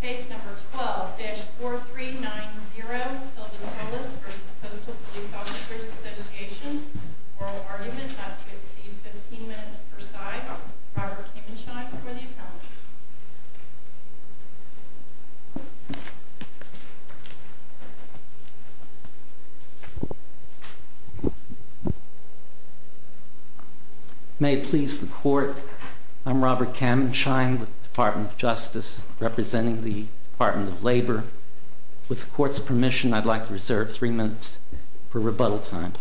case number 12-4390, Hilda Solis versus Postal Police Officers Association, oral argument, that's going to exceed 15 minutes per side, Robert Kamenschein for the appellant. May it please the court, I'm Robert Kamenschein with the Department of Justice, representing the Department of Labor. With the court's permission, I'd like to reserve three minutes for rebuttal time.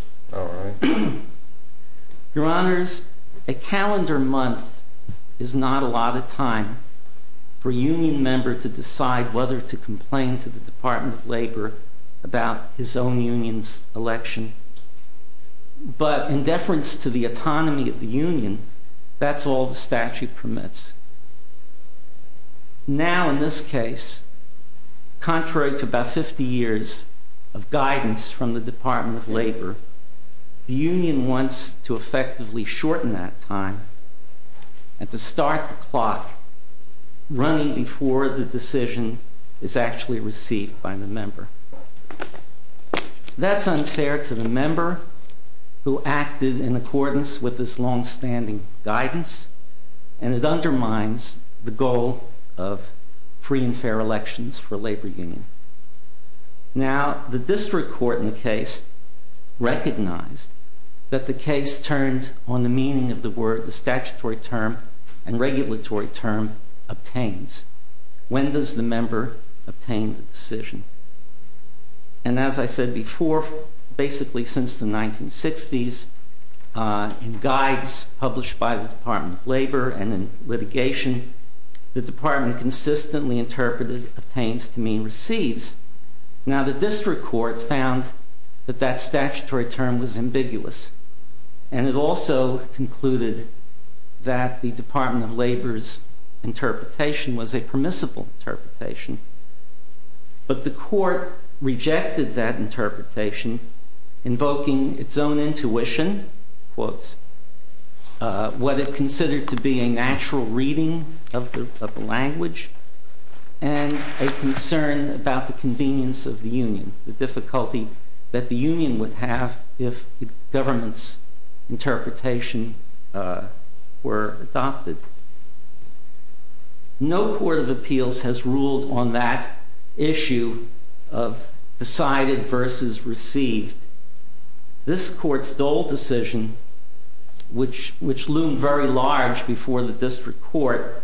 Your Honors, a calendar month is not a lot of time for a union member to decide whether to complain to the Department of Labor about his own union's election. But in deference to the autonomy of the union, that's all the statute permits. Now, in this case, contrary to about 50 years of guidance from the Department of Labor, the union wants to effectively shorten that time and to start the clock running before the decision is actually received by the member. That's unfair to the member who acted in accordance with this longstanding guidance, and it undermines the goal of free and fair elections for labor union. Now, the district court in the case recognized that the case turned on the meaning of the word, the statutory term and regulatory term, obtains. When does the member obtain the decision? And as I said before, basically since the 1960s, in guides published by the Department of Labor and in litigation, the department consistently interpreted obtains to mean receives. Now, the district court found that that statutory term was ambiguous, and it also concluded that the Department of Labor's interpretation was a permissible interpretation. But the court rejected that interpretation, invoking its own intuition, what it considered to be a natural reading of the language, and a concern about the convenience of the union, the difficulty that the union would have if the government's interpretation were adopted. No court of appeals has ruled on that issue of decided versus received. This court's Dole decision, which loomed very large before the district court,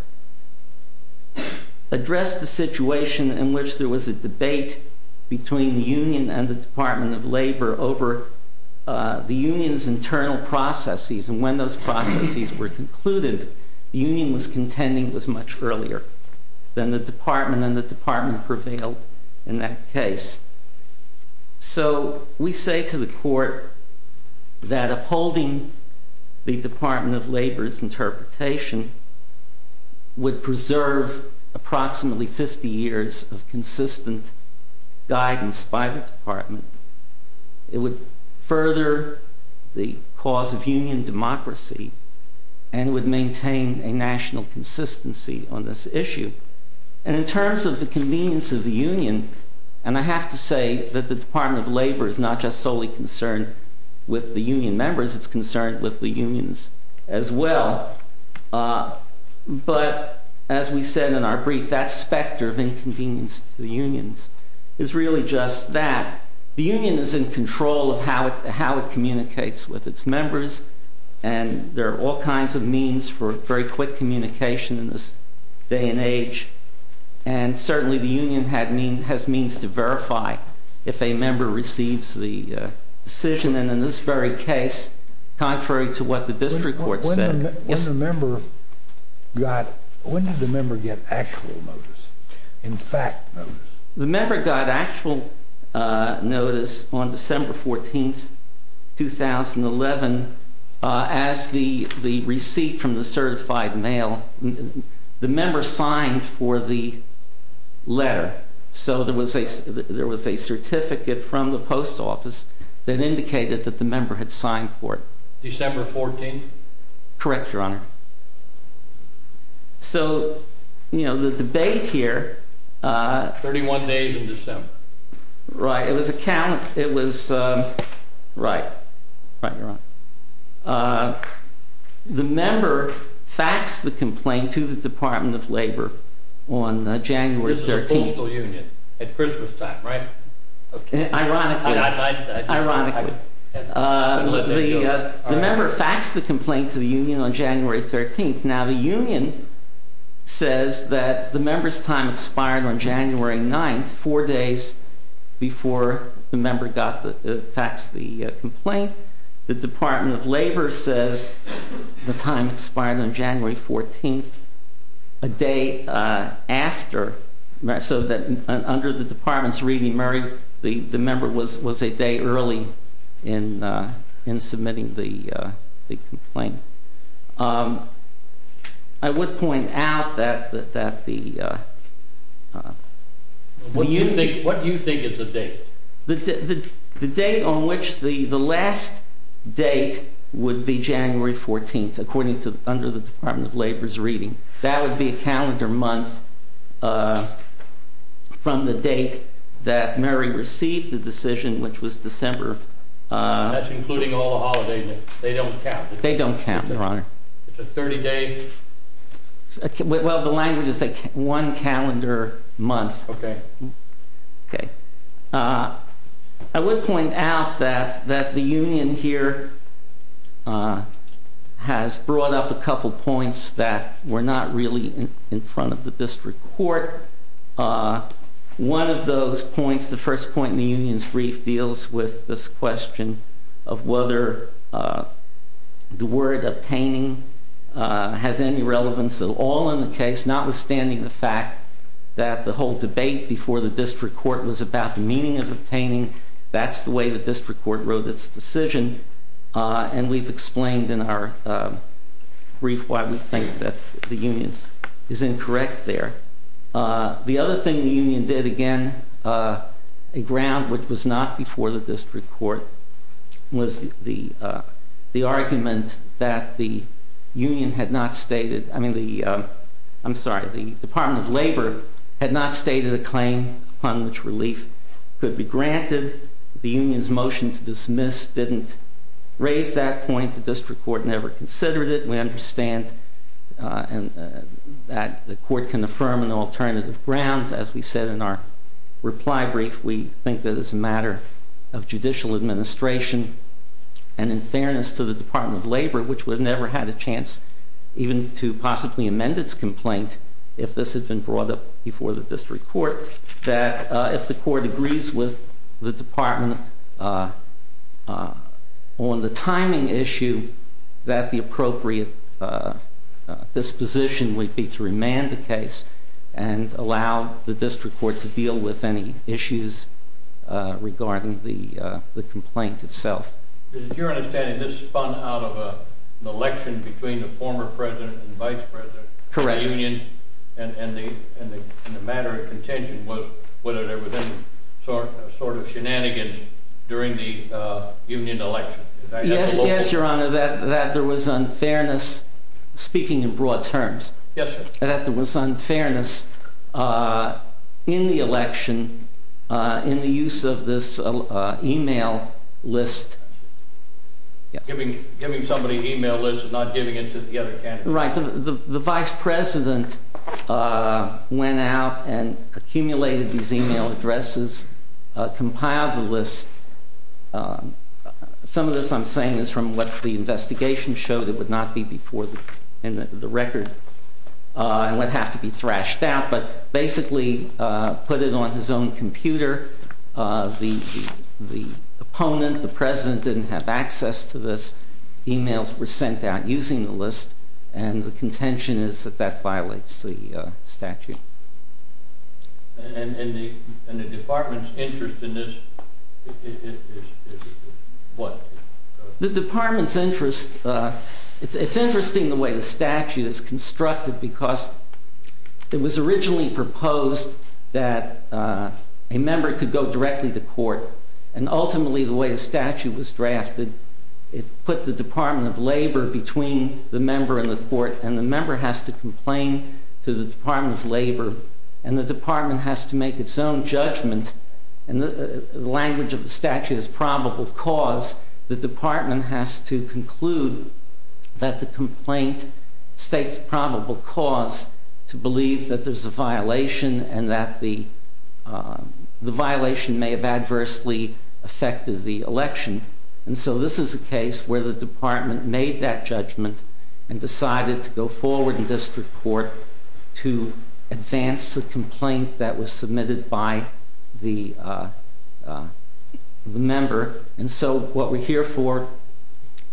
addressed the situation in which there was a debate between the union and the Department of Labor over the union's internal processes. And when those processes were concluded, the union was contending it was much earlier than the department, and the department prevailed in that case. So we say to the court that upholding the Department of Labor's interpretation would preserve approximately 50 years of consistent guidance by the department. It would further the cause of union democracy and would maintain a national consistency on this issue. And in terms of the convenience of the union, and I have to say that the Department of Labor is not just solely concerned with the union members, it's concerned with the unions as well. But as we said in our brief, that specter of inconvenience to the unions is really just that. The union is in control of how it communicates with its members, and there are all kinds of means for very quick communication in this day and age. And certainly the union has means to verify if a member receives the decision. And in this very case, contrary to what the district court said— When did the member get actual notice, in fact notice? The member got actual notice on December 14th, 2011, as the receipt from the certified mail. The member signed for the letter, so there was a certificate from the post office that indicated that the member had signed for it. December 14th? Correct, Your Honor. So, you know, the debate here— 31 days in December. Right, it was a count, it was—right, right, Your Honor. The member faxed the complaint to the Department of Labor on January 13th. This is a postal union at Christmas time, right? Ironically, ironically. The member faxed the complaint to the union on January 13th. Now, the union says that the member's time expired on January 9th, four days before the member faxed the complaint. The Department of Labor says the time expired on January 14th, a day after. So that under the Department's reading, Murray, the member was a day early in submitting the complaint. I would point out that the— What do you think is the date? The date on which the—the last date would be January 14th, according to—under the Department of Labor's reading. That would be a calendar month from the date that Murray received the decision, which was December— That's including all the holidays. They don't count. They don't count, Your Honor. It's a 30-day— Well, the language is a one-calendar month. Okay. I would point out that the union here has brought up a couple points that were not really in front of the district court. One of those points, the first point in the union's brief, deals with this question of whether the word obtaining has any relevance at all in the case, notwithstanding the fact that the whole debate before the district court was about the meaning of obtaining. That's the way the district court wrote its decision, and we've explained in our brief why we think that the union is incorrect there. The other thing the union did, again, a ground which was not before the district court, was the argument that the union had not stated—I'm sorry, the Department of Labor had not stated a claim upon which relief could be granted. The union's motion to dismiss didn't raise that point. The district court never considered it. We understand that the court can affirm an alternative ground. As we said in our reply brief, we think that it's a matter of judicial administration and, in fairness to the Department of Labor, which would have never had a chance even to possibly amend its complaint if this had been brought up before the district court, that if the court agrees with the department on the timing issue, that the appropriate disposition would be to remand the case and allow the district court to deal with any issues regarding the complaint itself. Is it your understanding this spun out of an election between the former president and vice president of the union? Correct. And the matter of contention was whether there were any sort of shenanigans during the union election. Yes, Your Honor, that there was unfairness—speaking in broad terms. Yes, sir. That there was unfairness in the election, in the use of this email list. Giving somebody an email list and not giving it to the other candidate. Right. The vice president went out and accumulated these email addresses, compiled the list. Some of this I'm saying is from what the investigation showed. It would not be before the record and would have to be thrashed out, but basically put it on his own computer. The opponent, the president, didn't have access to this. Emails were sent out using the list, and the contention is that that violates the statute. And the department's interest in this is what? The department's interest—it's interesting the way the statute is constructed, because it was originally proposed that a member could go directly to court, and ultimately the way the statute was drafted, it put the Department of Labor between the member and the court, and the member has to complain to the Department of Labor, and the department has to make its own judgment. The language of the statute is probable cause. The department has to conclude that the complaint states probable cause to believe that there's a violation and that the violation may have adversely affected the election. And so this is a case where the department made that judgment and decided to go forward in district court to advance the complaint that was submitted by the member. And so what we're here for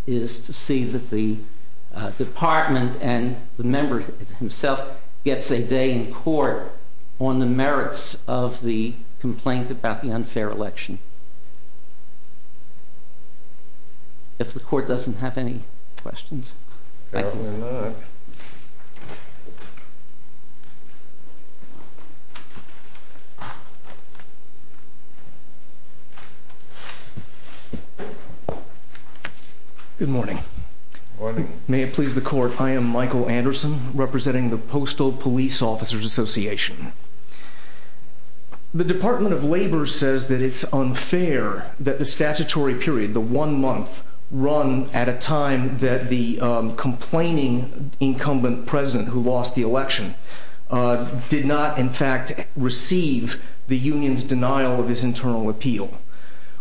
is to see that the department and the member himself gets a day in court on the merits of the complaint about the unfair election. If the court doesn't have any questions. Certainly not. Good morning. Good morning. May it please the court, I am Michael Anderson, representing the Postal Police Officers Association. The Department of Labor says that it's unfair that the statutory period, the one month, run at a time that the complaining incumbent president who lost the election did not in fact receive the union's denial of his internal appeal.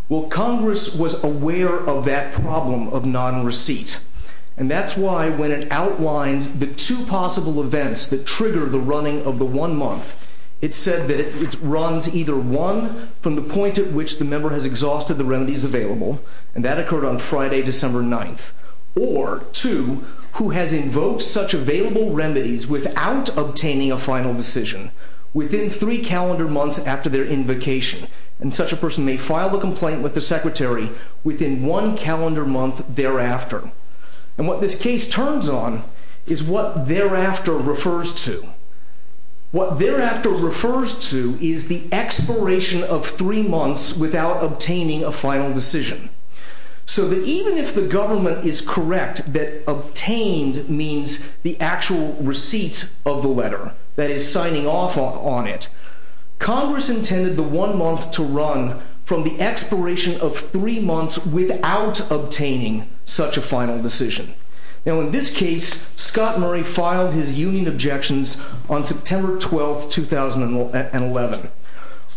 Well, Congress was aware of that problem of non-receipt, and that's why when it outlined the two possible events that trigger the running of the one month, it said that it runs either one, from the point at which the member has exhausted the remedies available, and that occurred on Friday, December 9th, or two, who has invoked such available remedies without obtaining a final decision within three calendar months after their invocation. And such a person may file a complaint with the secretary within one calendar month thereafter. And what this case turns on is what thereafter refers to. What thereafter refers to is the expiration of three months without obtaining a final decision. So that even if the government is correct that obtained means the actual receipt of the letter, that is signing off on it, Congress intended the one month to run from the expiration of three months without obtaining such a final decision. Now in this case, Scott Murray filed his union objections on September 12th, 2011.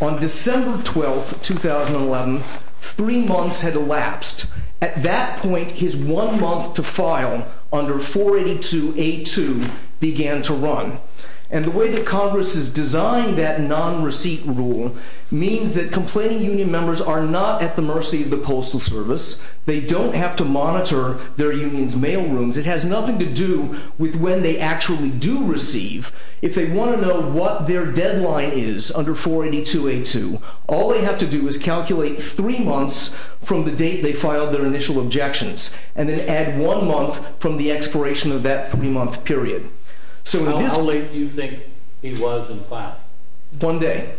On December 12th, 2011, three months had elapsed. At that point, his one month to file under 482A2 began to run. And the way that Congress has designed that non-receipt rule means that complaining union members are not at the mercy of the Postal Service. They don't have to monitor their union's mail rooms. It has nothing to do with when they actually do receive. If they want to know what their deadline is under 482A2, all they have to do is calculate three months from the date they filed their initial objections, and then add one month from the expiration of that three month period. How late do you think he was in filing? One day.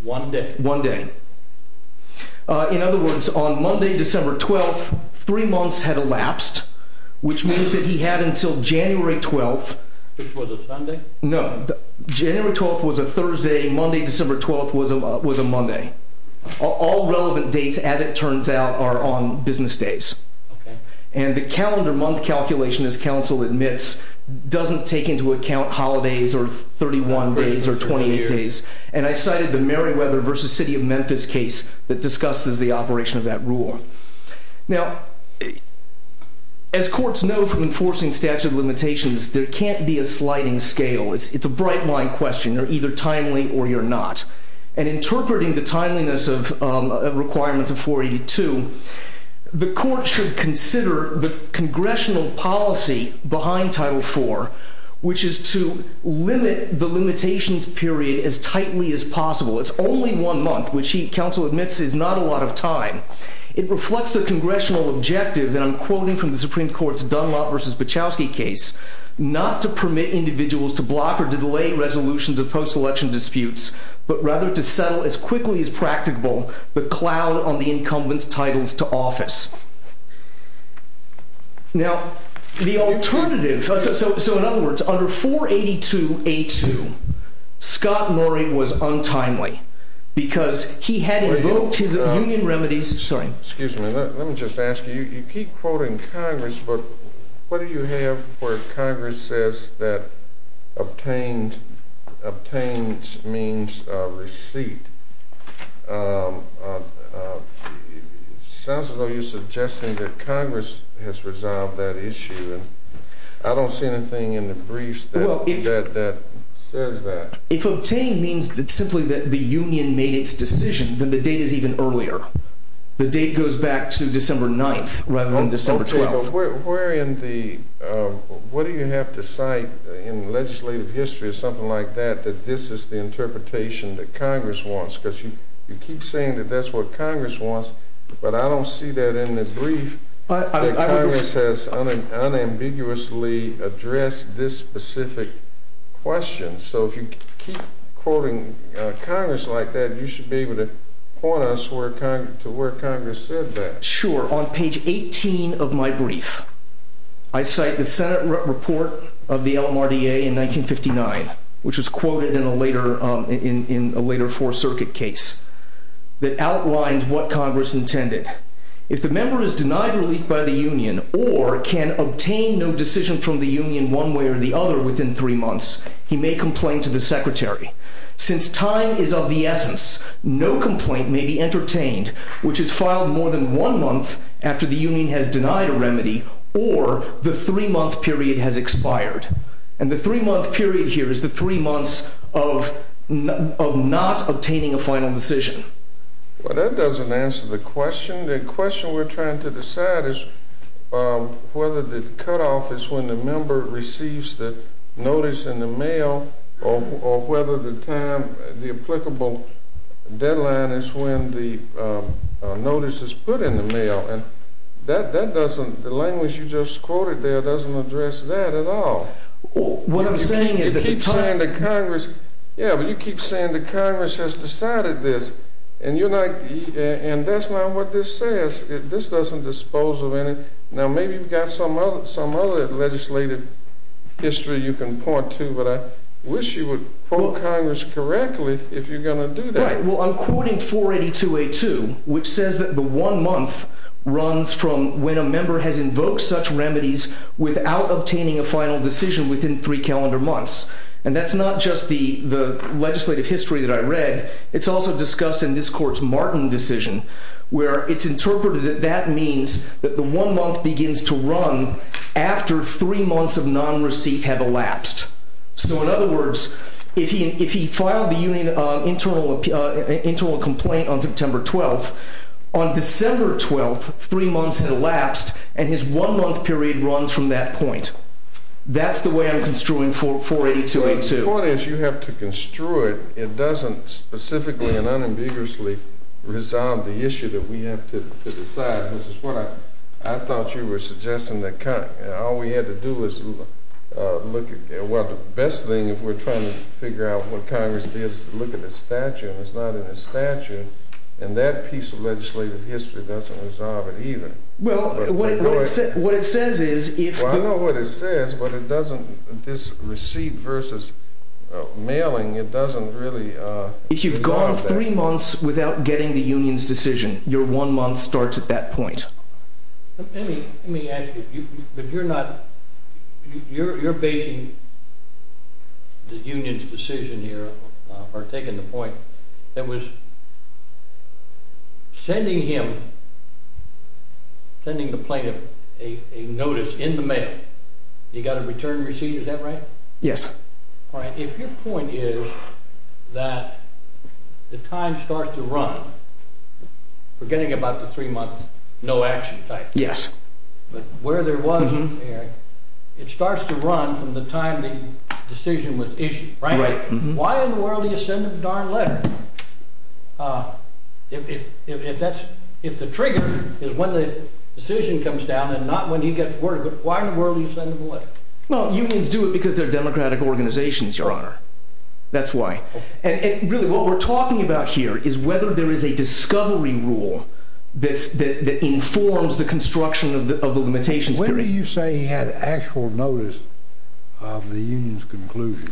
One day? One day. In other words, on Monday, December 12th, three months had elapsed, which means that he had until January 12th. Which was a Sunday? No, January 12th was a Thursday. Monday, December 12th was a Monday. All relevant dates, as it turns out, are on business days. And the calendar month calculation, as counsel admits, doesn't take into account holidays or 31 days or 28 days. And I cited the Meriwether v. City of Memphis case that discusses the operation of that rule. Now, as courts know from enforcing statute of limitations, there can't be a sliding scale. It's a bright line question. You're either timely or you're not. And interpreting the timeliness of requirements of 482, the court should consider the congressional policy behind Title IV, which is to limit the limitations period as tightly as possible. It's only one month, which counsel admits is not a lot of time. It reflects the congressional objective, and I'm quoting from the Supreme Court's Dunlop v. Bachowski case, not to permit individuals to block or delay resolutions of post-election disputes, but rather to settle as quickly as practicable the cloud on the incumbent's titles to office. Now, the alternative, so in other words, under 482A2, Scott Murray was untimely because he had revoked his union remedies. Excuse me. Let me just ask you. You keep quoting Congress, but what do you have where Congress says that obtained means receipt? It sounds as though you're suggesting that Congress has resolved that issue. I don't see anything in the briefs that says that. If obtained means simply that the union made its decision, then the date is even earlier. The date goes back to December 9th rather than December 12th. Okay, but what do you have to cite in legislative history or something like that, that this is the interpretation that Congress wants? Because you keep saying that that's what Congress wants, but I don't see that in the brief that Congress has unambiguously addressed this specific question. So if you keep quoting Congress like that, you should be able to point us to where Congress said that. Sure. On page 18 of my brief, I cite the Senate report of the LMRDA in 1959, which was quoted in a later Fourth Circuit case that outlined what Congress intended. If the member is denied relief by the union or can obtain no decision from the union one way or the other within three months, he may complain to the secretary. Since time is of the essence, no complaint may be entertained, which is filed more than one month after the union has denied a remedy or the three-month period has expired. And the three-month period here is the three months of not obtaining a final decision. Well, that doesn't answer the question. The question we're trying to decide is whether the cutoff is when the member receives the notice in the mail or whether the applicable deadline is when the notice is put in the mail. The language you just quoted there doesn't address that at all. What I'm saying is that the time— Yeah, but you keep saying that Congress has decided this, and that's not what this says. This doesn't dispose of any— Now, maybe you've got some other legislative history you can point to, but I wish you would quote Congress correctly if you're going to do that. Right. Well, I'm quoting 482A2, which says that the one month runs from when a member has invoked such remedies without obtaining a final decision within three calendar months. And that's not just the legislative history that I read. It's also discussed in this Court's Martin decision, where it's interpreted that that means that the one month begins to run after three months of nonreceipt have elapsed. So, in other words, if he filed the internal complaint on September 12th, on December 12th, three months had elapsed, and his one-month period runs from that point. That's the way I'm construing 482A2. The point is you have to construe it. It doesn't specifically and unambiguously resolve the issue that we have to decide, which is what I thought you were suggesting, that all we had to do was look at— well, the best thing, if we're trying to figure out what Congress did, is to look at the statute, and it's not in the statute. And that piece of legislative history doesn't resolve it either. Well, what it says is if— mailing, it doesn't really resolve that. If you've gone three months without getting the union's decision, your one month starts at that point. Let me ask you, but you're not— you're basing the union's decision here, or taking the point, that was sending him, sending the plaintiff, a notice in the mail. You got a return receipt, is that right? Yes. All right, if your point is that the time starts to run, we're getting about the three-month no-action time. Yes. But where there wasn't, Eric, it starts to run from the time the decision was issued, right? Right. Why in the world do you send him a darn letter? If the trigger is when the decision comes down and not when he gets word of it, why in the world do you send him a letter? Well, unions do it because they're democratic organizations, Your Honor. That's why. And really, what we're talking about here is whether there is a discovery rule that informs the construction of the limitations period. When do you say he had actual notice of the union's conclusion?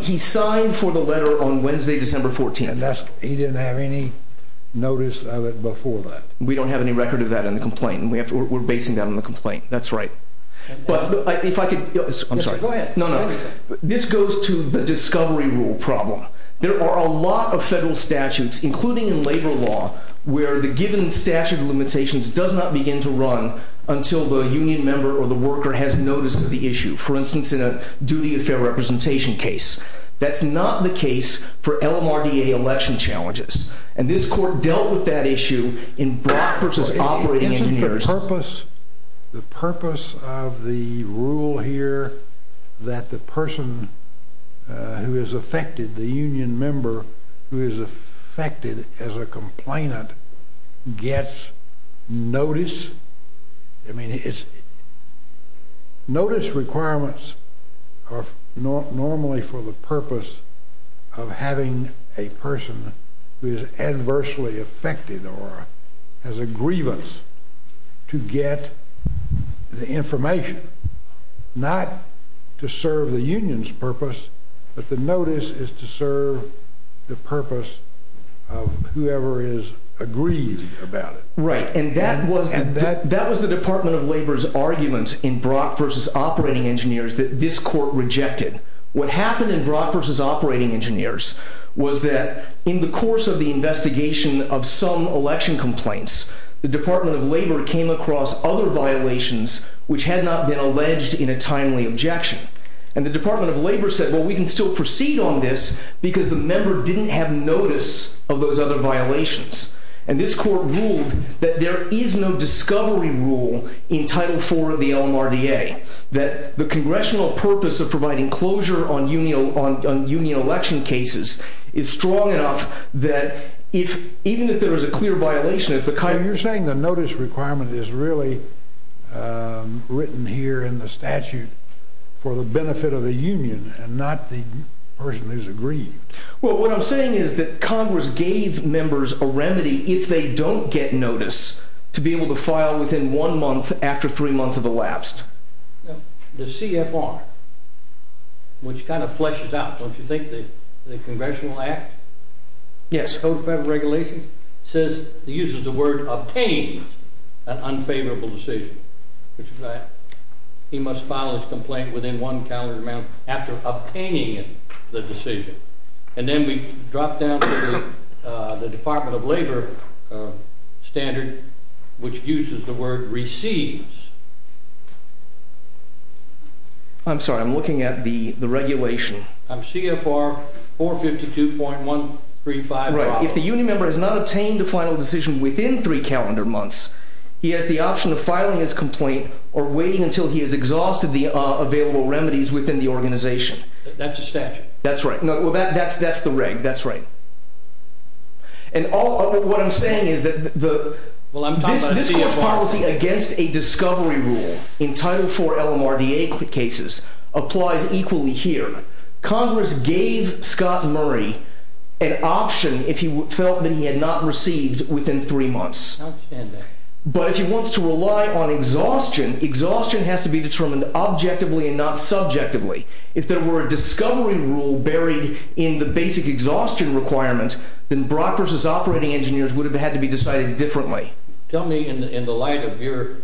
He signed for the letter on Wednesday, December 14th. He didn't have any notice of it before that? We don't have any record of that in the complaint. We're basing that on the complaint. That's right. But if I could, I'm sorry. Go ahead. No, no. This goes to the discovery rule problem. There are a lot of federal statutes, including in labor law, where the given statute of limitations does not begin to run until the union member or the worker has noticed the issue. For instance, in a duty of fair representation case. That's not the case for LMRDA election challenges. And this court dealt with that issue in Brock v. Operating Engineers. The purpose of the rule here that the person who is affected, the union member who is affected as a complainant, gets notice. I mean, notice requirements are normally for the purpose of having a person who is adversely affected or has a grievance to get the information. Not to serve the union's purpose, but the notice is to serve the purpose of whoever is aggrieved about it. Right. And that was the Department of Labor's argument in Brock v. Operating Engineers that this court rejected. What happened in Brock v. Operating Engineers was that in the course of the investigation of some election complaints, the Department of Labor came across other violations which had not been alleged in a timely objection. And the Department of Labor said, well, we can still proceed on this because the member didn't have notice of those other violations. And this court ruled that there is no discovery rule in Title IV of the LMRDA, that the Congressional purpose of providing closure on union election cases is strong enough that even if there is a clear violation, if the kind of You're saying the notice requirement is really written here in the statute for the benefit of the union and not the person who is aggrieved. Well, what I'm saying is that Congress gave members a remedy if they don't get notice to be able to file within one month after three months have elapsed. The CFR, which kind of fleshes out, don't you think, the Congressional Act? Yes. Code of Federal Regulations says, it uses the word, obtains an unfavorable decision, which is that he must file his complaint within one calendar amount after obtaining the decision. And then we drop down to the Department of Labor standard, which uses the word, receives. I'm sorry, I'm looking at the regulation. CFR 452.135. If the union member has not obtained a final decision within three calendar months, he has the option of filing his complaint or waiting until he has exhausted the available remedies within the organization. That's the statute. That's right. That's the reg, that's right. And what I'm saying is that this court's policy against a discovery rule in Title IV LMRDA cases applies equally here. Congress gave Scott Murray an option if he felt that he had not received within three months. But if he wants to rely on exhaustion, exhaustion has to be determined objectively and not subjectively. If there were a discovery rule buried in the basic exhaustion requirement, then Brock v. Operating Engineers would have had to be decided differently. Tell me, in the light of your,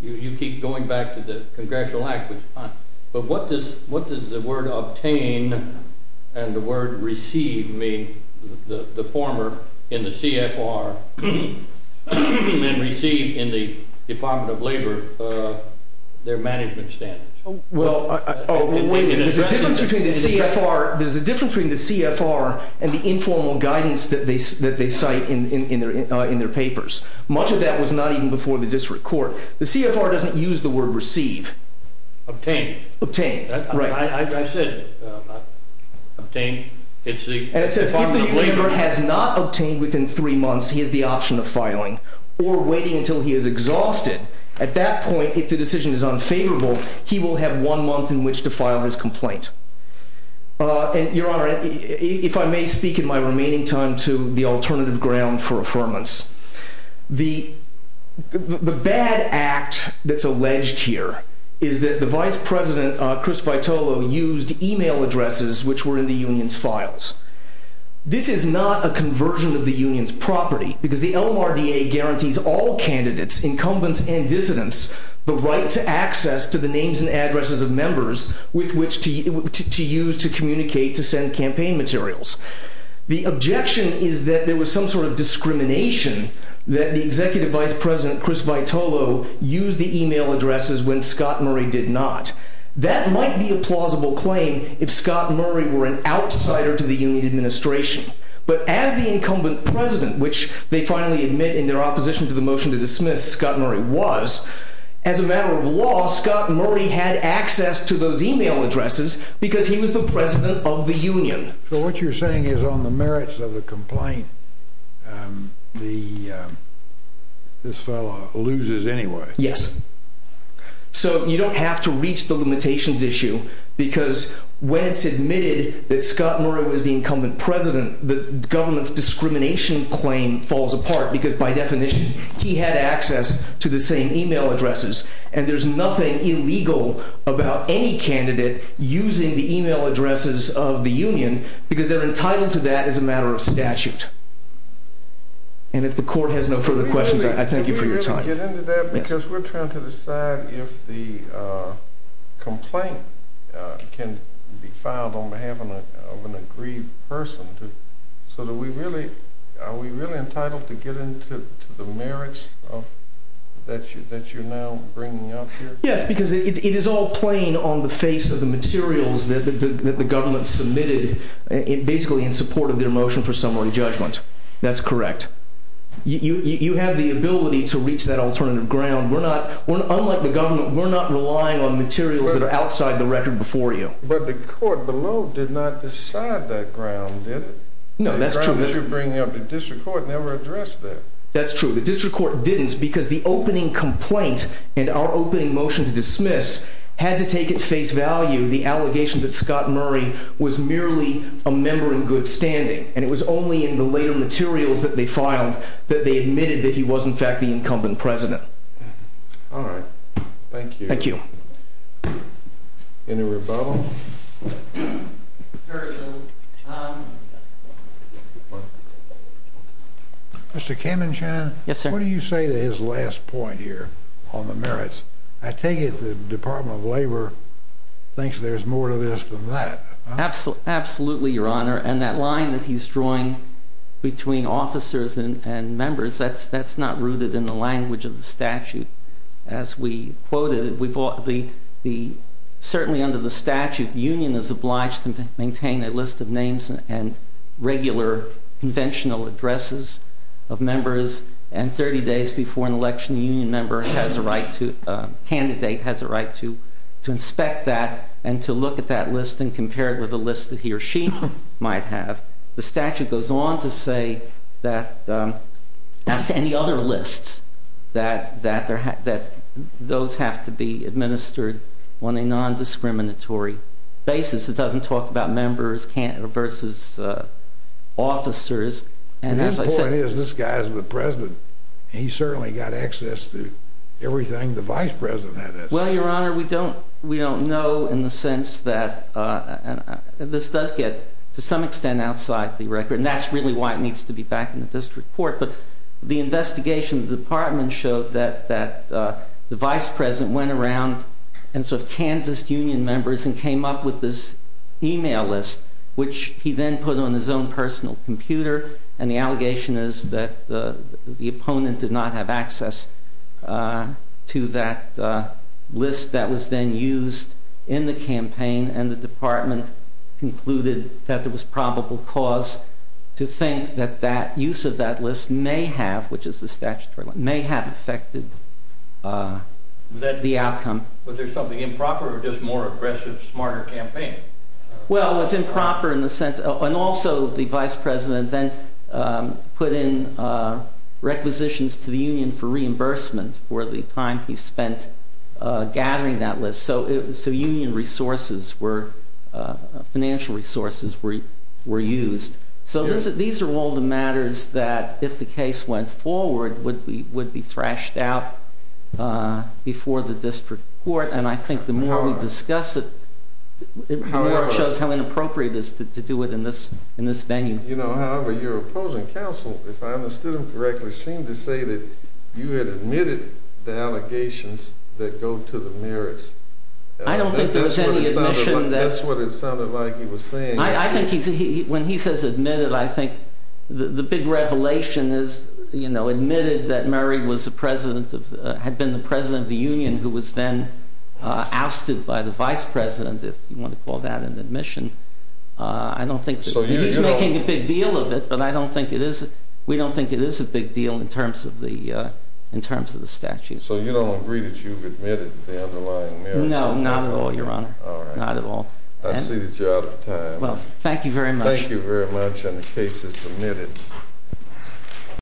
you keep going back to the Congressional Act, but what does the word, obtain, and the word, receive mean, the former in the CFR, and receive in the Department of Labor, their management standards? Well, there's a difference between the CFR and the informal guidance that they cite in their papers. Much of that was not even before the district court. The CFR doesn't use the word, receive. Obtain. Obtain, right. I said, obtain, it's the Department of Labor. And it says if the member has not obtained within three months, he has the option of filing or waiting until he is exhausted. At that point, if the decision is unfavorable, he will have one month in which to file his complaint. And, Your Honor, if I may speak in my remaining time to the alternative ground for affirmance. The bad act that's alleged here is that the vice president, Chris Vitolo, used email addresses which were in the union's files. This is not a conversion of the union's property because the LMRDA guarantees all candidates, incumbents, and dissidents the right to access to the names and addresses of members with which to use to communicate to send campaign materials. The objection is that there was some sort of discrimination that the executive vice president, Chris Vitolo, used the email addresses when Scott Murray did not. That might be a plausible claim if Scott Murray were an outsider to the union administration. But as the incumbent president, which they finally admit in their opposition to the motion to dismiss, as a matter of law, Scott Murray had access to those email addresses because he was the president of the union. So what you're saying is on the merits of the complaint, this fellow loses anyway. Yes. So you don't have to reach the limitations issue because when it's admitted that Scott Murray was the incumbent president, the government's discrimination claim falls apart because by definition he had access to the same email addresses. And there's nothing illegal about any candidate using the email addresses of the union because they're entitled to that as a matter of statute. And if the court has no further questions, I thank you for your time. Can we really get into that? Because we're trying to decide if the complaint can be filed on behalf of an agreed person. So are we really entitled to get into the merits that you're now bringing up here? Yes, because it is all plain on the face of the materials that the government submitted basically in support of their motion for summary judgment. That's correct. You have the ability to reach that alternative ground. Unlike the government, we're not relying on materials that are outside the record before you. But the court below did not decide that ground, did it? No, that's true. The ground that you're bringing up, the district court never addressed that. That's true. The district court didn't because the opening complaint and our opening motion to dismiss had to take at face value the allegation that Scott Murray was merely a member in good standing. And it was only in the later materials that they filed that they admitted that he was in fact the incumbent president. All right. Thank you. Thank you. Any rebuttals? Very little. Mr. Kamenschein, what do you say to his last point here on the merits? I take it the Department of Labor thinks there's more to this than that. Absolutely, Your Honor. And that line that he's drawing between officers and members, that's not rooted in the language of the statute. As we quoted, certainly under the statute, the union is obliged to maintain a list of names and regular conventional addresses of members. And 30 days before an election, a union member has a right to, a candidate has a right to inspect that and to look at that list and compare it with a list that he or she might have. The statute goes on to say that, as to any other lists, that those have to be administered on a nondiscriminatory basis. It doesn't talk about members versus officers. The point is, this guy is the president. He certainly got access to everything the vice president had access to. Well, Your Honor, we don't know in the sense that this does get, to some extent, outside the record. And that's really why it needs to be back in the district court. But the investigation of the department showed that the vice president went around and sort of canvassed union members and came up with this email list, which he then put on his own personal computer. And the allegation is that the opponent did not have access to that list that was then used in the campaign. And the department concluded that there was probable cause to think that use of that list may have, which is the statutory one, may have affected the outcome. Was there something improper or just more aggressive, smarter campaign? Well, it was improper in the sense, and also the vice president then put in requisitions to the union for reimbursement for the time he spent gathering that list. So union resources were, financial resources were used. So these are all the matters that, if the case went forward, would be thrashed out before the district court. And I think the more we discuss it, the more it shows how inappropriate it is to do it in this venue. You know, however, your opposing counsel, if I understood him correctly, seemed to say that you had admitted the allegations that go to the merits. I don't think there was any admission. That's what it sounded like he was saying. I think when he says admitted, I think the big revelation is, you know, admitted that Murray had been the president of the union who was then ousted by the vice president, if you want to call that an admission. He's making a big deal of it, but I don't think it is. It's a big deal in terms of the statute. So you don't agree that you've admitted the underlying merits? No, not at all, Your Honor. All right. Not at all. I see that you're out of time. Well, thank you very much. Thank you very much, and the case is submitted.